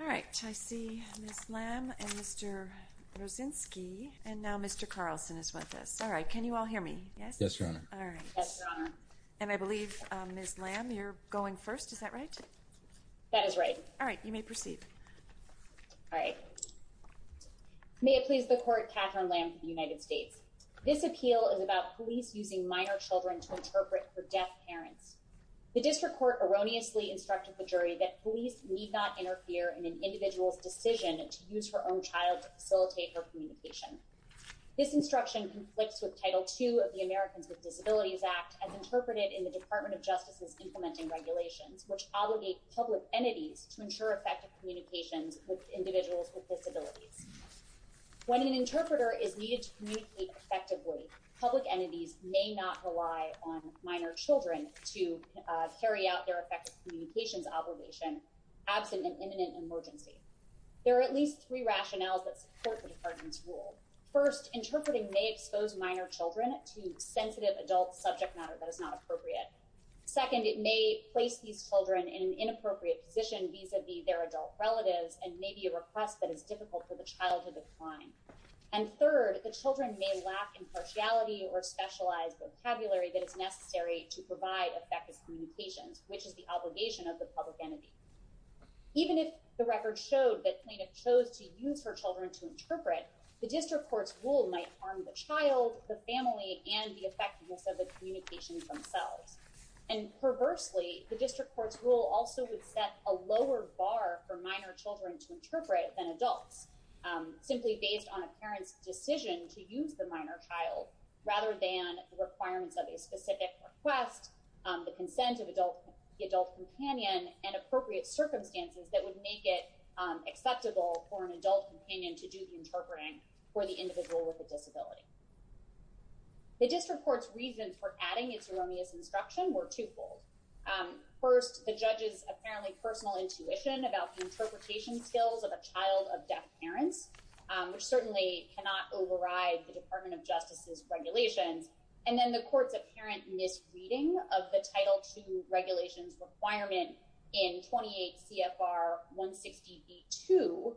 All right, I see Ms. Lamb and Mr. Rozinski, and now Mr. Carlson is with us. All right, can you all hear me? Yes? Yes, Your Honor. All right. Yes, Your Honor. And I believe, Ms. Lamb, you're going first, is that right? That is right. All right, you may proceed. All right. May it please the Court, Katherine Lamb for the United States. This appeal is about police using minor children to interpret for deaf parents. The district court erroneously instructed the jury that police need not interfere in an individual's decision to use her own child to facilitate her communication. This instruction conflicts with Title II of the Americans with Disabilities Act as interpreted in the Department of Justice's implementing regulations, which obligate public entities to ensure effective communications with individuals with disabilities. When an interpreter is needed to communicate effectively, public entities may not rely on minor children to carry out their effective communications obligation absent an imminent emergency. There are at least three rationales that support the department's rule. First, interpreting may expose minor children to sensitive adult subject matter that is not appropriate. Second, it may place these children in an inappropriate position vis-a-vis their adult relatives and may be a request that is difficult for the child to decline. And third, the children may lack impartiality or specialized vocabulary that is necessary to provide effective communications, which is the obligation of the public entity. Even if the record showed that plaintiff chose to use her children to interpret, the district court's rule might harm the child, the family, and the effectiveness of the communications themselves. And perversely, the district court's rule also would set a lower bar for minor children to interpret than adults, simply based on a parent's decision to use the minor child rather than the requirements of a specific request, the consent of the adult companion, and appropriate circumstances that would make it acceptable for an adult companion to do the interpreting for the individual with a disability. The district court's reasons for adding its erroneous instruction were twofold. First, the judge's apparently personal intuition about the interpretation skills of a child of deaf parents, which certainly cannot override the Department of Justice's regulations. And then the court's apparent misreading of the Title II regulations requirement in 28 CFR 162,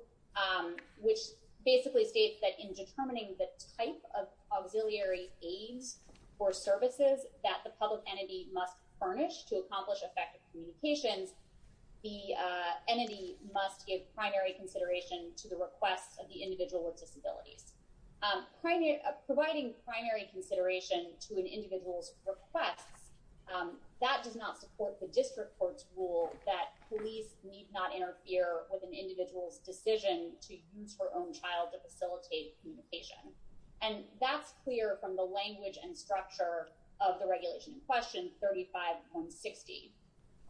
which basically states that in determining the type of auxiliary aids or services that the public entity must furnish to accomplish effective communications, the entity must give primary consideration to the requests of the individual with disabilities. Providing primary consideration to an individual's requests, that does not support the district court's rule that police need not interfere with an individual's decision to use her own child to facilitate communication. And that's clear from the language and structure of the regulation in question 35160.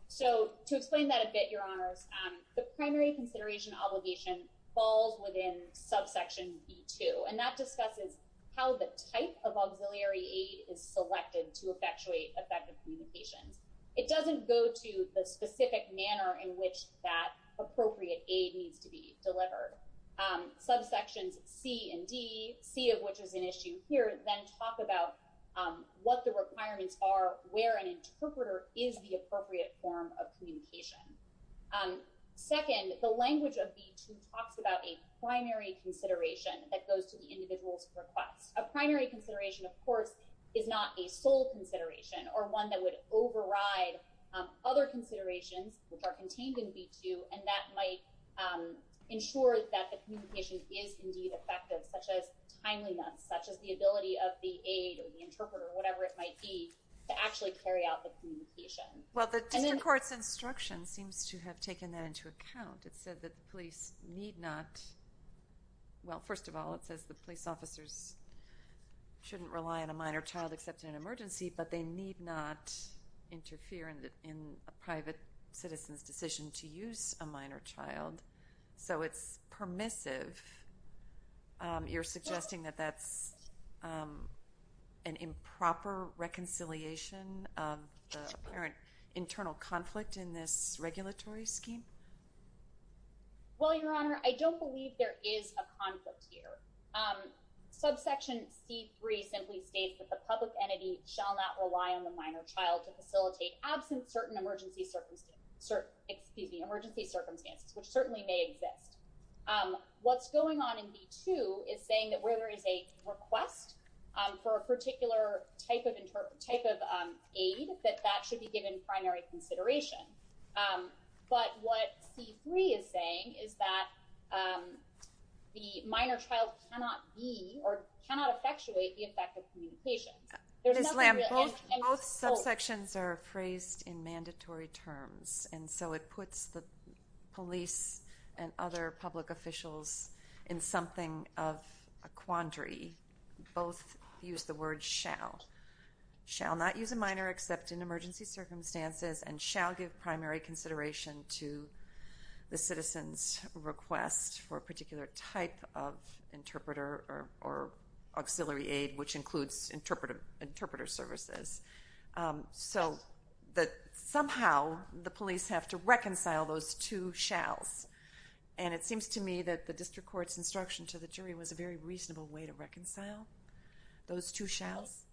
So to explain that a bit, Your Honors, the primary consideration obligation falls within subsection E2, and that discusses how the type of auxiliary aid is selected to effectuate effective communications. It doesn't go to the specific manner in which that appropriate aid needs to be delivered. Subsections C and D, C of which is an issue here, then talk about what the requirements are, where an interpreter is the appropriate form of communication. Second, the language of B2 talks about a primary consideration that goes to the individual's request. A primary consideration, of course, is not a sole consideration or one that would override other considerations, which are contained in B2, and that might ensure that the communication is indeed effective, such as timeliness, such as the ability of the aid or the interpreter or whatever it might be to actually carry out the communication. Well, the district court's instruction seems to have taken that into account. It said that the police need not, well, first of all, it says the police officers shouldn't rely on a minor child except in an emergency, but they need not interfere in a private citizen's decision to use a minor child. So it's permissive. You're suggesting that that's an improper reconciliation of the apparent internal conflict in this regulatory scheme? Well, Your Honor, I don't believe there is a conflict here. Subsection C3 simply states that the public entity shall not rely on the minor child to facilitate, absent certain emergency circumstances, which certainly may exist. What's going on in B2 is saying that where there is a request for a particular type of aid, that that should be given primary consideration. But what C3 is saying is that the minor child cannot be or cannot effectuate the effect of communication. Ms. Lamb, both subsections are phrased in mandatory terms, and so it puts the police and other public officials in something of a quandary. Both use the word shall. Shall not use a minor except in emergency circumstances, and shall give primary consideration to the citizen's request for a particular type of interpreter or auxiliary aid, which includes interpreter services. So that somehow the police have to reconcile those two shalls. And it seems to me that the district court's instruction to the jury was a very reasonable way to reconcile those two shalls.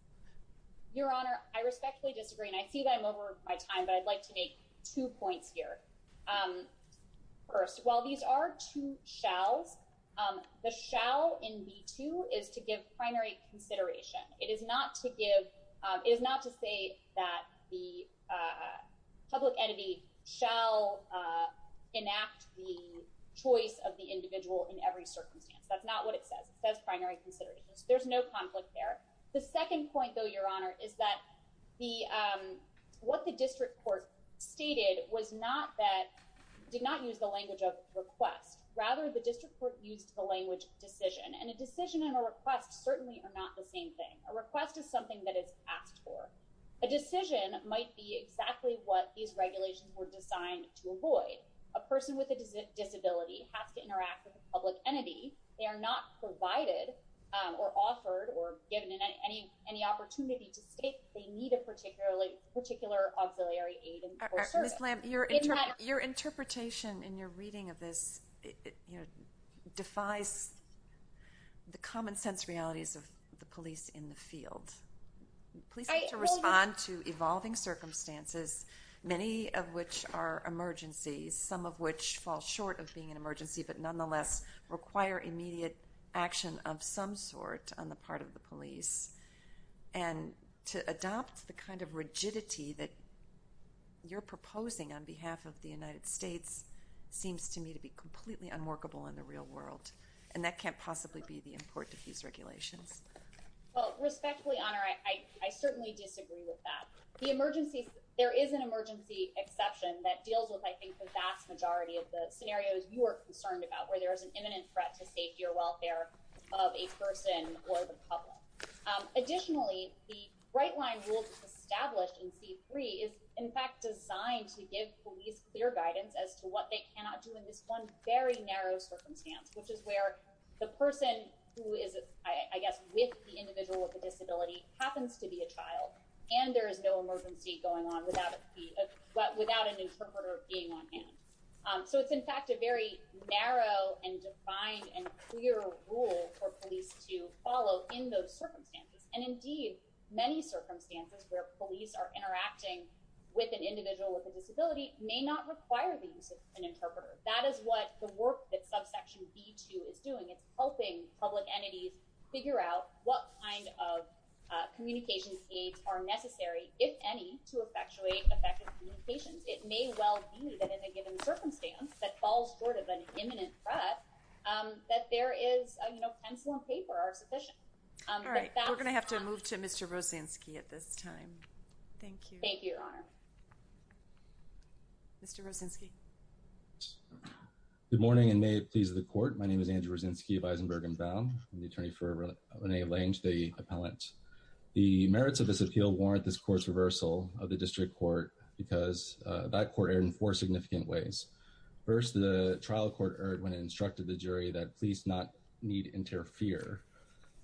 Your Honor, I respectfully disagree, and I see that I'm over my time, but I'd like to make two points here. First, while these are two shalls, the shall in B2 is to give primary consideration. It is not to say that the public entity shall enact the choice of the individual in every circumstance. That's not what it says. It says primary consideration, so there's no conflict there. The second point, though, Your Honor, is that what the district court stated did not use the language of request. Rather, the district court used the language of decision, and a decision and a request certainly are not the same thing. A request is something that is asked for. A decision might be exactly what these regulations were designed to avoid. A person with a disability has to interact with a public entity. They are not provided or offered or given any opportunity to state they need a particular auxiliary aid or service. Ms. Lamb, your interpretation in your reading of this defies the common sense realities of the police in the field. Police have to respond to evolving circumstances, many of which are emergencies, some of which fall short of being an emergency but nonetheless require immediate action of some sort on the part of the police, and to adopt the kind of rigidity that you're proposing on behalf of the United States seems to me to be completely unworkable in the real world, and that can't possibly be the import of these regulations. Well, respectfully, Your Honor, I certainly disagree with that. There is an emergency exception that deals with, I think, the vast majority of the scenarios you are concerned about, where there is an imminent threat to safety or welfare of a person or the public. Additionally, the right-line rule established in C-3 is, in fact, designed to give police clear guidance as to what they cannot do in this one very narrow circumstance, which is where the person who is, I guess, with the individual with the disability happens to be a child, and there is no emergency going on without an interpreter being on hand. So it's, in fact, a very narrow and defined and clear rule for police to follow in those circumstances, and indeed, many circumstances where police are interacting with an individual with a disability may not require the use of an interpreter. That is what the work that subsection B-2 is doing. It's helping public entities figure out what kind of communication aids are necessary, if any, to effectuate effective communications. It may well be that in a given circumstance that falls short of an imminent threat, that there is, you know, pencil and paper are sufficient. All right. We're going to have to move to Mr. Rosensky at this time. Thank you, Your Honor. Mr. Rosensky. Good morning, and may it please the Court. My name is Andrew Rosensky of Eisenberg & Baum. I'm the attorney for Rene Lange, the appellant. The merits of this appeal warrant this court's reversal of the district court because that court erred in four significant ways. First, the trial court erred when it instructed the jury that police not need interfere,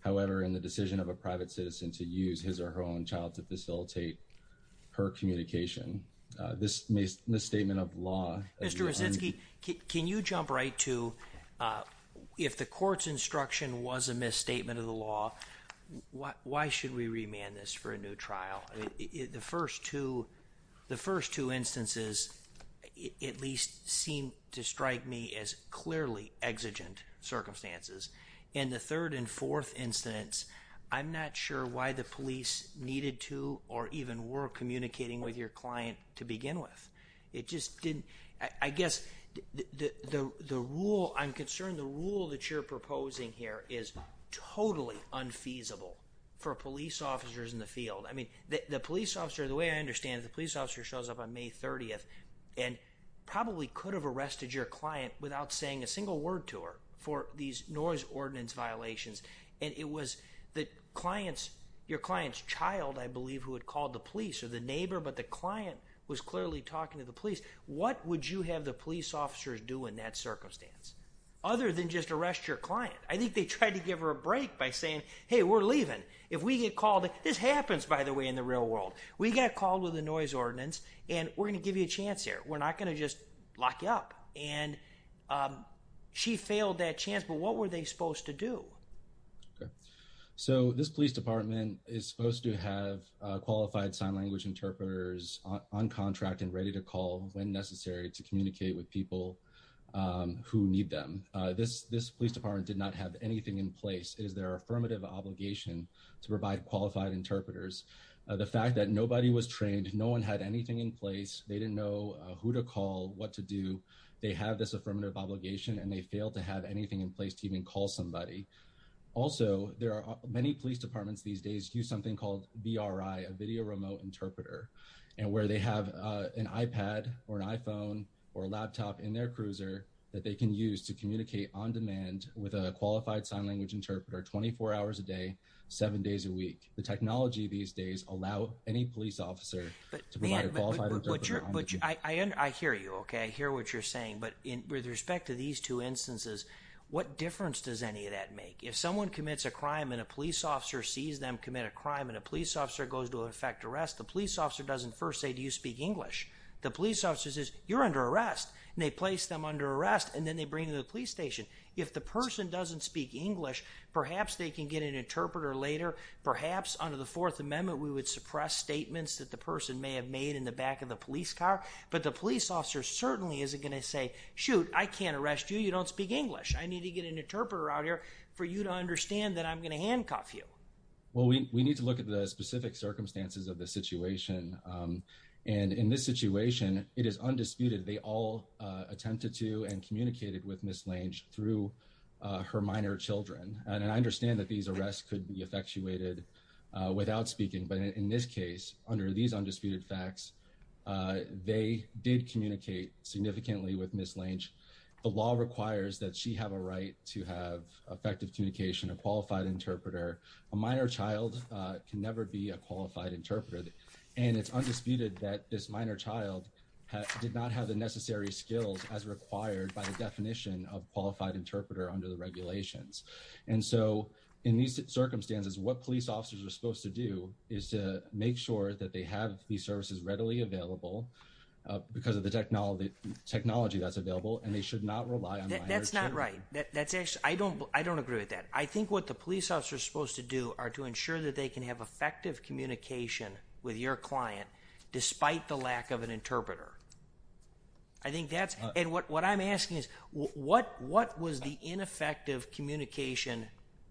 however, in the decision of a private citizen to use his or her own child to facilitate her communication. This misstatement of law… Mr. Rosensky, can you jump right to if the court's instruction was a misstatement of the law, why should we remand this for a new trial? The first two instances at least seem to strike me as clearly exigent circumstances. In the third and fourth incidents, I'm not sure why the police needed to or even were communicating with your client to begin with. It just didn't… I guess the rule… I'm concerned the rule that you're proposing here is totally unfeasible for police officers in the field. I mean, the police officer, the way I understand it, the police officer shows up on May 30th and probably could have arrested your client without saying a single word to her for these noise ordinance violations. And it was the client's… your client's child, I believe, who had called the police or the neighbor, but the client was clearly talking to the police. What would you have the police officers do in that circumstance other than just arrest your client? I think they tried to give her a break by saying, hey, we're leaving. If we get called… this happens, by the way, in the real world. We got called with a noise ordinance and we're going to give you a chance here. We're not going to just lock you up. And she failed that chance, but what were they supposed to do? So, this police department is supposed to have qualified sign language interpreters on contract and ready to call when necessary to communicate with people who need them. This police department did not have anything in place. It is their affirmative obligation to provide qualified interpreters. The fact that nobody was trained, no one had anything in place, they didn't know who to call, what to do. They have this affirmative obligation and they failed to have anything in place to even call somebody. Also, there are many police departments these days use something called VRI, a video remote interpreter, and where they have an iPad or an iPhone or a laptop in their cruiser that they can use to communicate on demand with a qualified sign language interpreter 24 hours a day, 7 days a week. The technology these days allow any police officer to provide a qualified interpreter. I hear you. I hear what you're saying. But with respect to these two instances, what difference does any of that make? If someone commits a crime and a police officer sees them commit a crime and a police officer goes to effect arrest, the police officer doesn't first say, do you speak English? The police officer says, you're under arrest. And they place them under arrest and then they bring them to the police station. If the person doesn't speak English, perhaps they can get an interpreter later. Perhaps under the Fourth Amendment, we would suppress statements that the person may have made in the back of the police car. But the police officer certainly isn't going to say, shoot, I can't arrest you. You don't speak English. I need to get an interpreter out here for you to understand that I'm going to handcuff you. Well, we need to look at the specific circumstances of the situation. And in this situation, it is undisputed. They all attempted to and communicated with Ms. Lange through her minor children. And I understand that these arrests could be effectuated without speaking. But in this case, under these undisputed facts, they did communicate significantly with Ms. Lange. The law requires that she have a right to have effective communication, a qualified interpreter. A minor child can never be a qualified interpreter. And it's undisputed that this minor child did not have the necessary skills as required by the definition of qualified interpreter under the regulations. And so in these circumstances, what police officers are supposed to do is to make sure that they have these services readily available because of the technology that's available. And they should not rely on minor children. That's not right. I don't agree with that. And I think what the police officers are supposed to do are to ensure that they can have effective communication with your client despite the lack of an interpreter. I think that's – and what I'm asking is what was the ineffective communication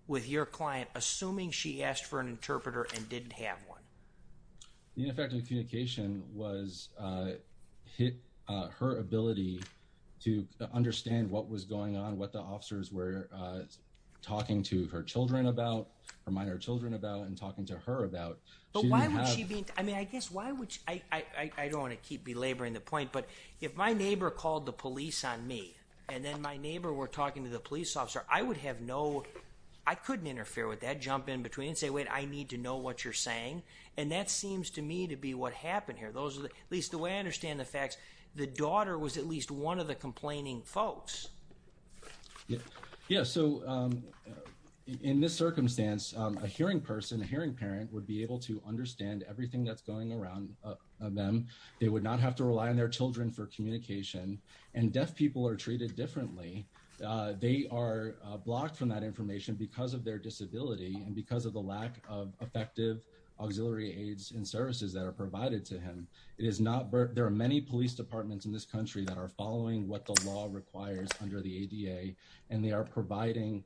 with your client assuming she asked for an interpreter and didn't have one? The ineffective communication was her ability to understand what was going on, what the officers were talking to her children about, her minor children about, and talking to her about. But why would she be – I mean, I guess why would – I don't want to keep belaboring the point. But if my neighbor called the police on me and then my neighbor were talking to the police officer, I would have no – I couldn't interfere with that, jump in between and say, wait, I need to know what you're saying. And that seems to me to be what happened here. Those are the – at least the way I understand the facts, the daughter was at least one of the complaining folks. Yeah, so in this circumstance, a hearing person, a hearing parent would be able to understand everything that's going on around them. They would not have to rely on their children for communication. And deaf people are treated differently. They are blocked from that information because of their disability and because of the lack of effective auxiliary aids and services that are provided to them. It is not – there are many police departments in this country that are following what the law requires under the ADA, and they are providing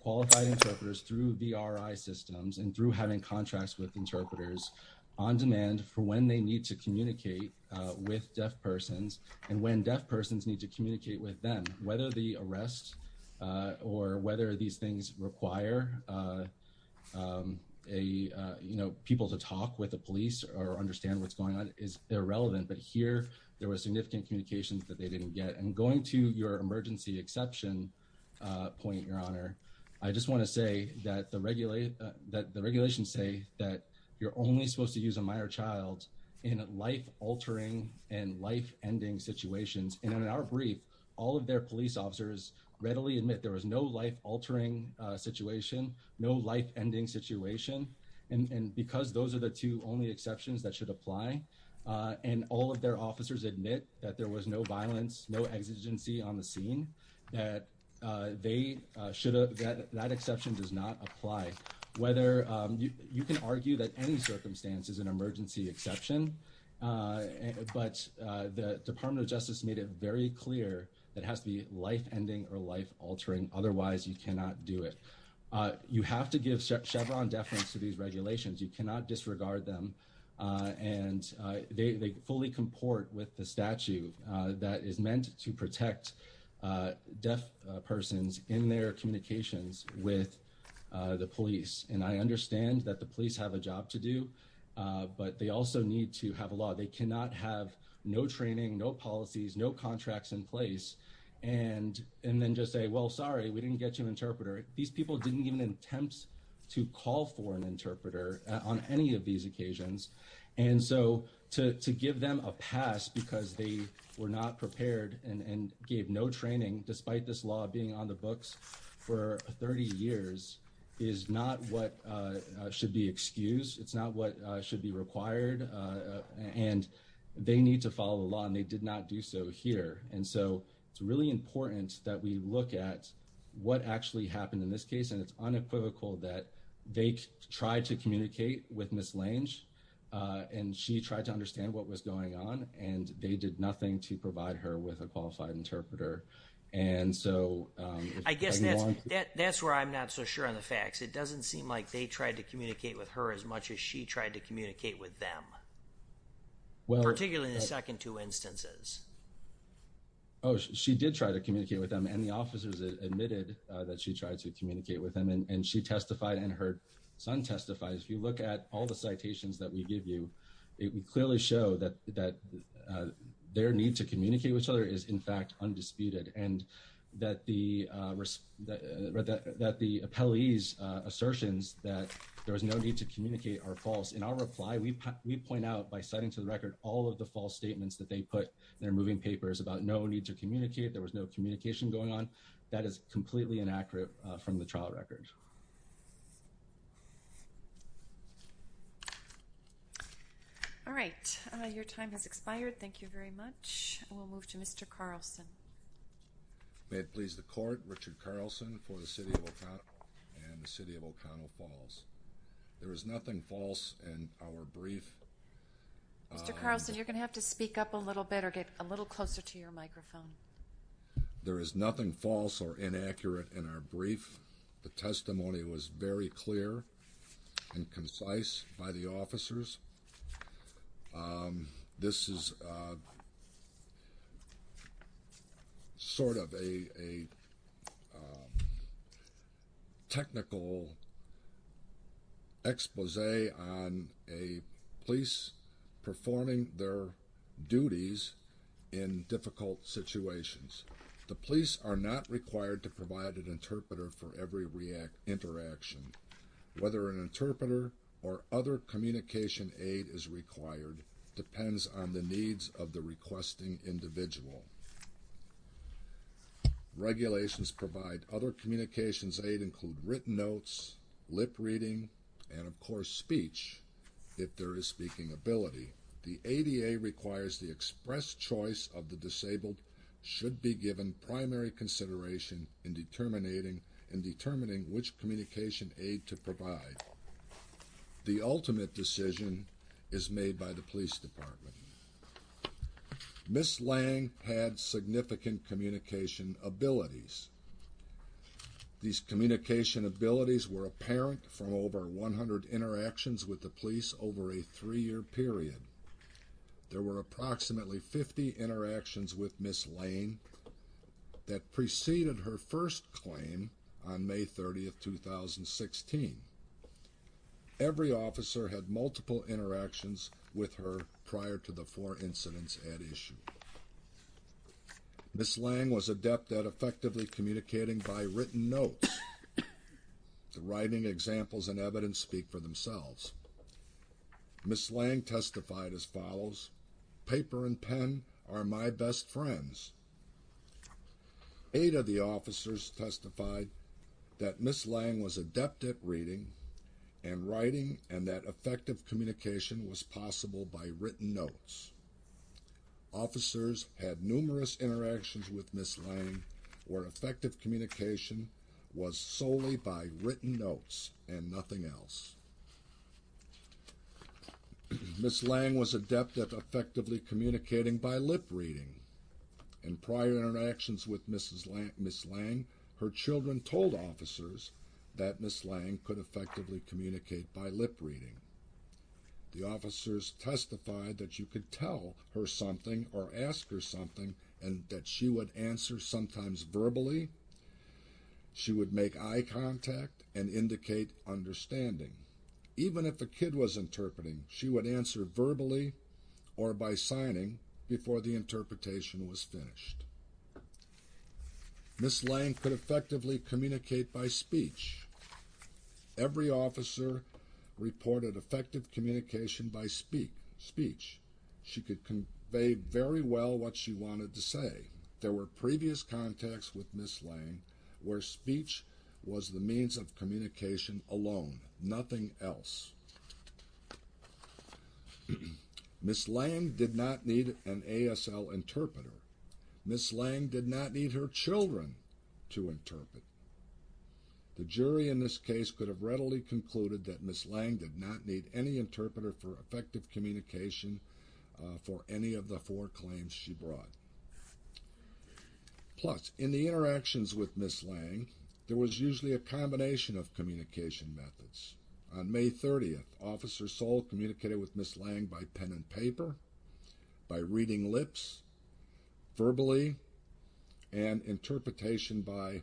qualified interpreters through VRI systems and through having contracts with interpreters on demand for when they need to communicate with deaf persons and when deaf persons need to communicate with them. Whether the arrest or whether these things require a – you know, people to talk with the police or understand what's going on is irrelevant. But here, there were significant communications that they didn't get. And going to your emergency exception point, Your Honor, I just want to say that the regulations say that you're only supposed to use a minor child in life-altering and life-ending situations. And in our brief, all of their police officers readily admit there was no life-altering situation, no life-ending situation. And because those are the two only exceptions that should apply, and all of their officers admit that there was no violence, no exigency on the scene, that they should – that exception does not apply. Whether – you can argue that any circumstance is an emergency exception, but the Department of Justice made it very clear that it has to be life-ending or life-altering. Otherwise, you cannot do it. You have to give Chevron deference to these regulations. You cannot disregard them. And they fully comport with the statute that is meant to protect deaf persons in their communications with the police. And I understand that the police have a job to do, but they also need to have a law. They cannot have no training, no policies, no contracts in place, and then just say, well, sorry, we didn't get you an interpreter. These people didn't even attempt to call for an interpreter on any of these occasions. And so to give them a pass because they were not prepared and gave no training, despite this law being on the books for 30 years, is not what should be excused. It's not what should be required. And they need to follow the law, and they did not do so here. And so it's really important that we look at what actually happened in this case. And it's unequivocal that they tried to communicate with Ms. Lange, and she tried to understand what was going on, and they did nothing to provide her with a qualified interpreter. And so if anyone — I guess that's where I'm not so sure on the facts. It doesn't seem like they tried to communicate with her as much as she tried to communicate with them, particularly in the second two instances. Oh, she did try to communicate with them, and the officers admitted that she tried to communicate with them, and she testified and her son testified. If you look at all the citations that we give you, it would clearly show that their need to communicate with each other is, in fact, undisputed, and that the appellee's assertions that there was no need to communicate are false. In our reply, we point out by citing to the record all of the false statements that they put in their moving papers about no need to communicate, there was no communication going on. That is completely inaccurate from the trial record. All right. Your time has expired. Thank you very much. We'll move to Mr. Carlson. May it please the Court, Richard Carlson for the City of Oconto and the City of Oconto Falls. There is nothing false in our brief. Mr. Carlson, you're going to have to speak up a little bit or get a little closer to your microphone. There is nothing false or inaccurate in our brief. The testimony was very clear and concise by the officers. This is sort of a technical expose on a police performing their duties in difficult situations. The police are not required to provide an interpreter for every interaction. Whether an interpreter or other communication aid is required depends on the needs of the requesting individual. Regulations provide other communications aid include written notes, lip reading, and, of course, speech, if there is speaking ability. The ADA requires the express choice of the disabled should be given primary consideration in determining which communication aid to provide. The ultimate decision is made by the police department. Ms. Lang had significant communication abilities. These communication abilities were apparent from over 100 interactions with the police over a three-year period. There were approximately 50 interactions with Ms. Lang that preceded her first claim on May 30, 2016. Every officer had multiple interactions with her prior to the four incidents at issue. Ms. Lang was adept at effectively communicating by written notes. The writing examples and evidence speak for themselves. Ms. Lang testified as follows. Paper and pen are my best friends. Eight of the officers testified that Ms. Lang was adept at reading and writing and that effective communication was possible by written notes. Officers had numerous interactions with Ms. Lang where effective communication was solely by written notes and nothing else. Ms. Lang was adept at effectively communicating by lip reading. In prior interactions with Ms. Lang, her children told officers that Ms. Lang could effectively communicate by lip reading. The officers testified that you could tell her something or ask her something and that she would answer sometimes verbally. She would make eye contact and indicate understanding. Even if a kid was interpreting, she would answer verbally or by signing before the interpretation was finished. Ms. Lang could effectively communicate by speech. Every officer reported effective communication by speech. She could convey very well what she wanted to say. There were previous contacts with Ms. Lang where speech was the means of communication alone, nothing else. Ms. Lang did not need an ASL interpreter. Ms. Lang did not need her children to interpret. The jury in this case could have readily concluded that Ms. Lang did not need any interpreter for effective communication for any of the four claims she brought. Plus, in the interactions with Ms. Lang, there was usually a combination of communication methods. On May 30th, Officer Soule communicated with Ms. Lang by pen and paper, by reading lips, verbally, and interpretation by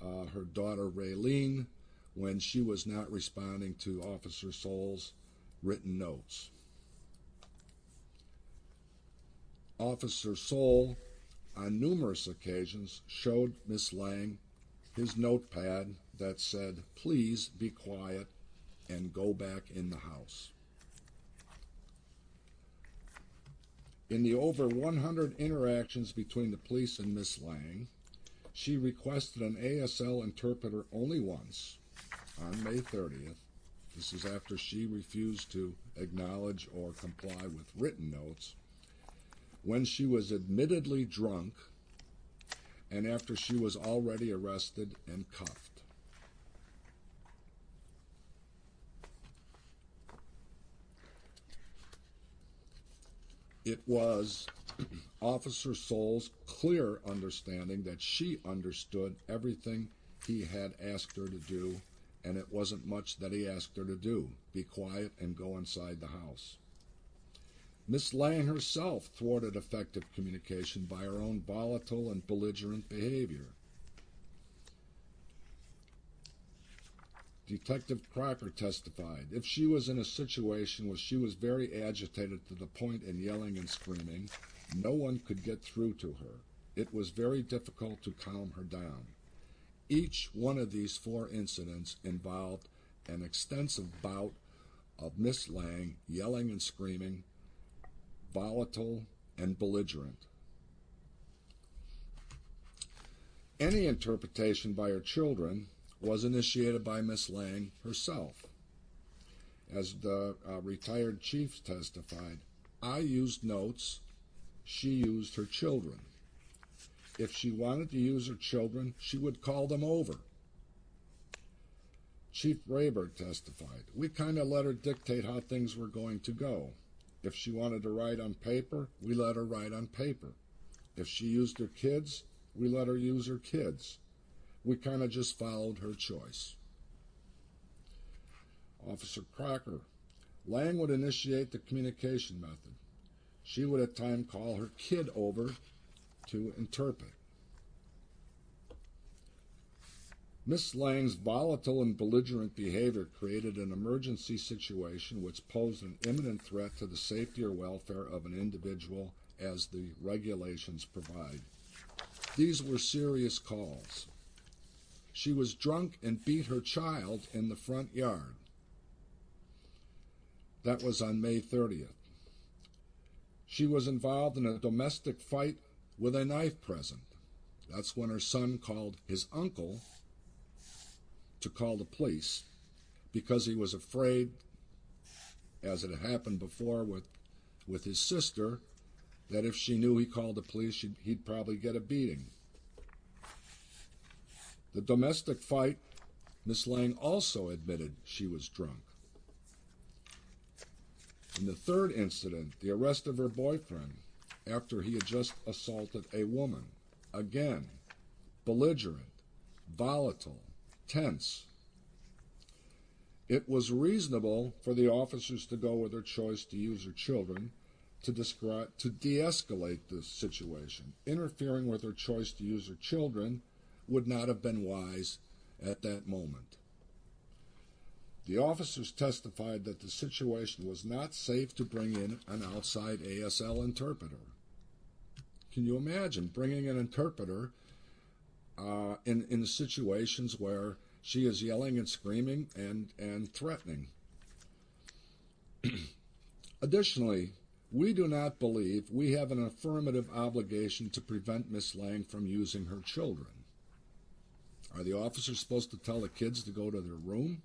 her daughter, Raylene, when she was not responding to Officer Soule's written notes. Officer Soule, on numerous occasions, showed Ms. Lang his notepad that said, Please be quiet and go back in the house. In the over 100 interactions between the police and Ms. Lang, she requested an ASL interpreter only once on May 30th. This is after she refused to acknowledge or comply with written notes, when she was admittedly drunk, and after she was already arrested and cuffed. It was Officer Soule's clear understanding that she understood everything he had asked her to do, and it wasn't much that he asked her to do. Be quiet and go inside the house. Ms. Lang herself thwarted effective communication by her own volatile and belligerent behavior. Detective Crocker testified, if she was in a situation where she was very agitated to the point of yelling and screaming, no one could get through to her. It was very difficult to calm her down. Each one of these four incidents involved an extensive bout of Ms. Lang yelling and screaming, volatile and belligerent. Any interpretation by her children was initiated by Ms. Lang herself. As the retired Chief testified, I used notes, she used her children. If she wanted to use her children, she would call them over. Chief Rayburg testified, we kind of let her dictate how things were going to go. If she wanted to write on paper, we let her write on paper. If she used her kids, we let her use her kids. We kind of just followed her choice. Officer Crocker, Lang would initiate the communication method. She would at times call her kid over to interpret. Ms. Lang's volatile and belligerent behavior created an emergency situation which posed an imminent threat to the safety or welfare of an individual as the regulations provide. These were serious calls. She was drunk and beat her child in the front yard. That was on May 30th. She was involved in a domestic fight with a knife present. That's when her son called his uncle to call the police because he was afraid, as had happened before with his sister, that if she knew he called the police, he'd probably get a beating. The domestic fight, Ms. Lang also admitted she was drunk. In the third incident, the arrest of her boyfriend after he had just assaulted a woman. Again, belligerent, volatile, tense. It was reasonable for the officers to go with their choice to use their children to de-escalate the situation. Interfering with their choice to use their children would not have been wise at that moment. The officers testified that the situation was not safe to bring in an outside ASL interpreter. Can you imagine bringing an interpreter in situations where she is yelling and screaming and threatening? Additionally, we do not believe we have an affirmative obligation to prevent Ms. Lang from using her children. Are the officers supposed to tell the kids to go to their room?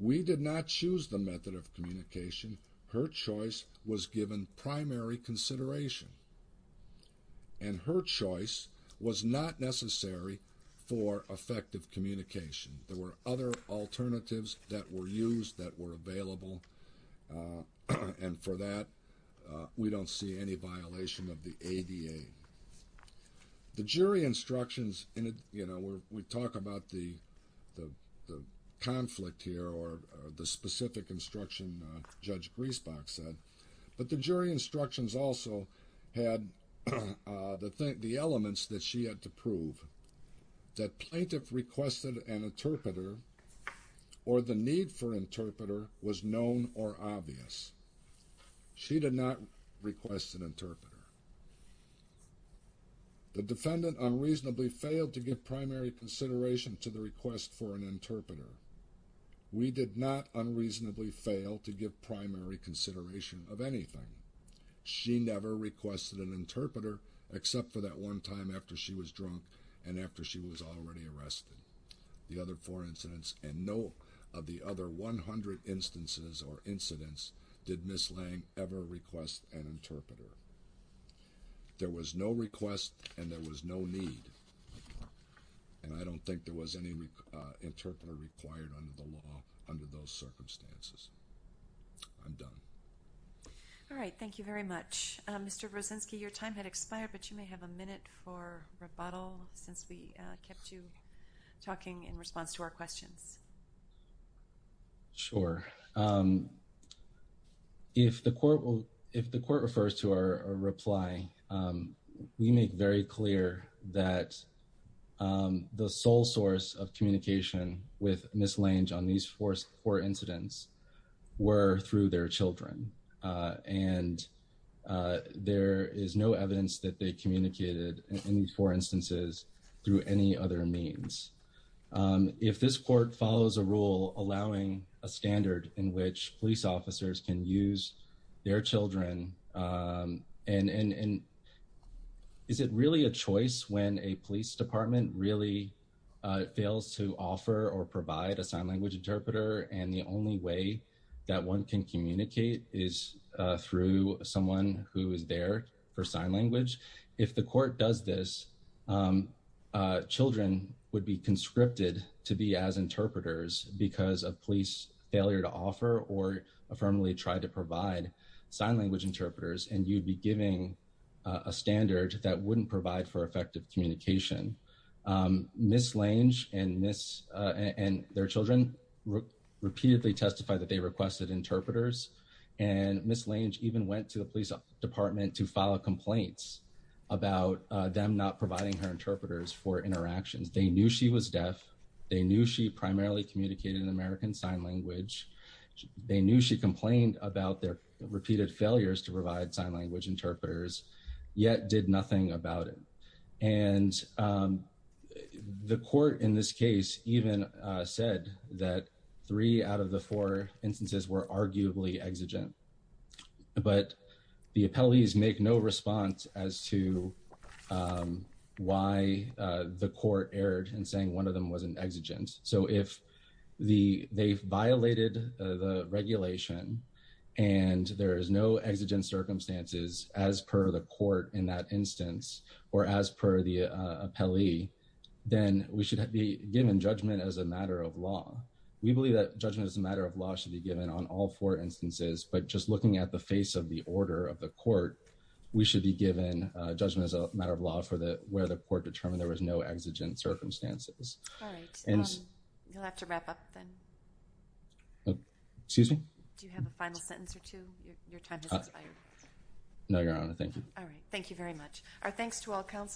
We did not choose the method of communication. Her choice was given primary consideration. And her choice was not necessary for effective communication. There were other alternatives that were used, that were available. And for that, we don't see any violation of the ADA. The jury instructions, you know, we talk about the conflict here, or the specific instruction Judge Griesbach said. But the jury instructions also had the elements that she had to prove. That plaintiff requested an interpreter, or the need for an interpreter was known or obvious. She did not request an interpreter. The defendant unreasonably failed to give primary consideration to the request for an interpreter. We did not unreasonably fail to give primary consideration of anything. She never requested an interpreter, except for that one time after she was drunk and after she was already arrested. The other four incidents and no of the other 100 instances or incidents did Ms. Lang ever request an interpreter. There was no request and there was no need. And I don't think there was any interpreter required under the law under those circumstances. I'm done. All right. Thank you very much. Mr. Brzezinski, your time had expired, but you may have a minute for rebuttal since we kept you talking in response to our questions. Sure. If the court will, if the court refers to our reply, we make very clear that the sole source of communication with Ms. Lange on these four incidents were through their children. And there is no evidence that they communicated in these four instances through any other means. If this court follows a rule allowing a standard in which police officers can use their children. And is it really a choice when a police department really fails to offer or provide a sign language interpreter and the only way that one can communicate is through someone who is there for sign language. If the court does this, children would be conscripted to be as interpreters because of police failure to offer or affirmatively try to provide sign language interpreters and you'd be giving a standard that wouldn't provide for effective communication. Ms. Lange and their children repeatedly testified that they requested interpreters and Ms. Lange even went to the police department to file complaints about them not providing her interpreters for interactions. They knew she was deaf. They knew she primarily communicated in American Sign Language. They knew she complained about their repeated failures to provide sign language interpreters, yet did nothing about it. And the court in this case even said that three out of the four instances were arguably exigent. But the appellees make no response as to why the court erred in saying one of them wasn't exigent. So if they've violated the regulation and there is no exigent circumstances as per the court in that instance or as per the appellee, then we should be given judgment as a matter of law. We believe that judgment as a matter of law should be given on all four instances, but just looking at the face of the order of the court, we should be given judgment as a matter of law for where the court determined there was no exigent circumstances. All right. You'll have to wrap up then. Excuse me? Do you have a final sentence or two? Your time has expired. No, Your Honor. Thank you. All right. Thank you very much.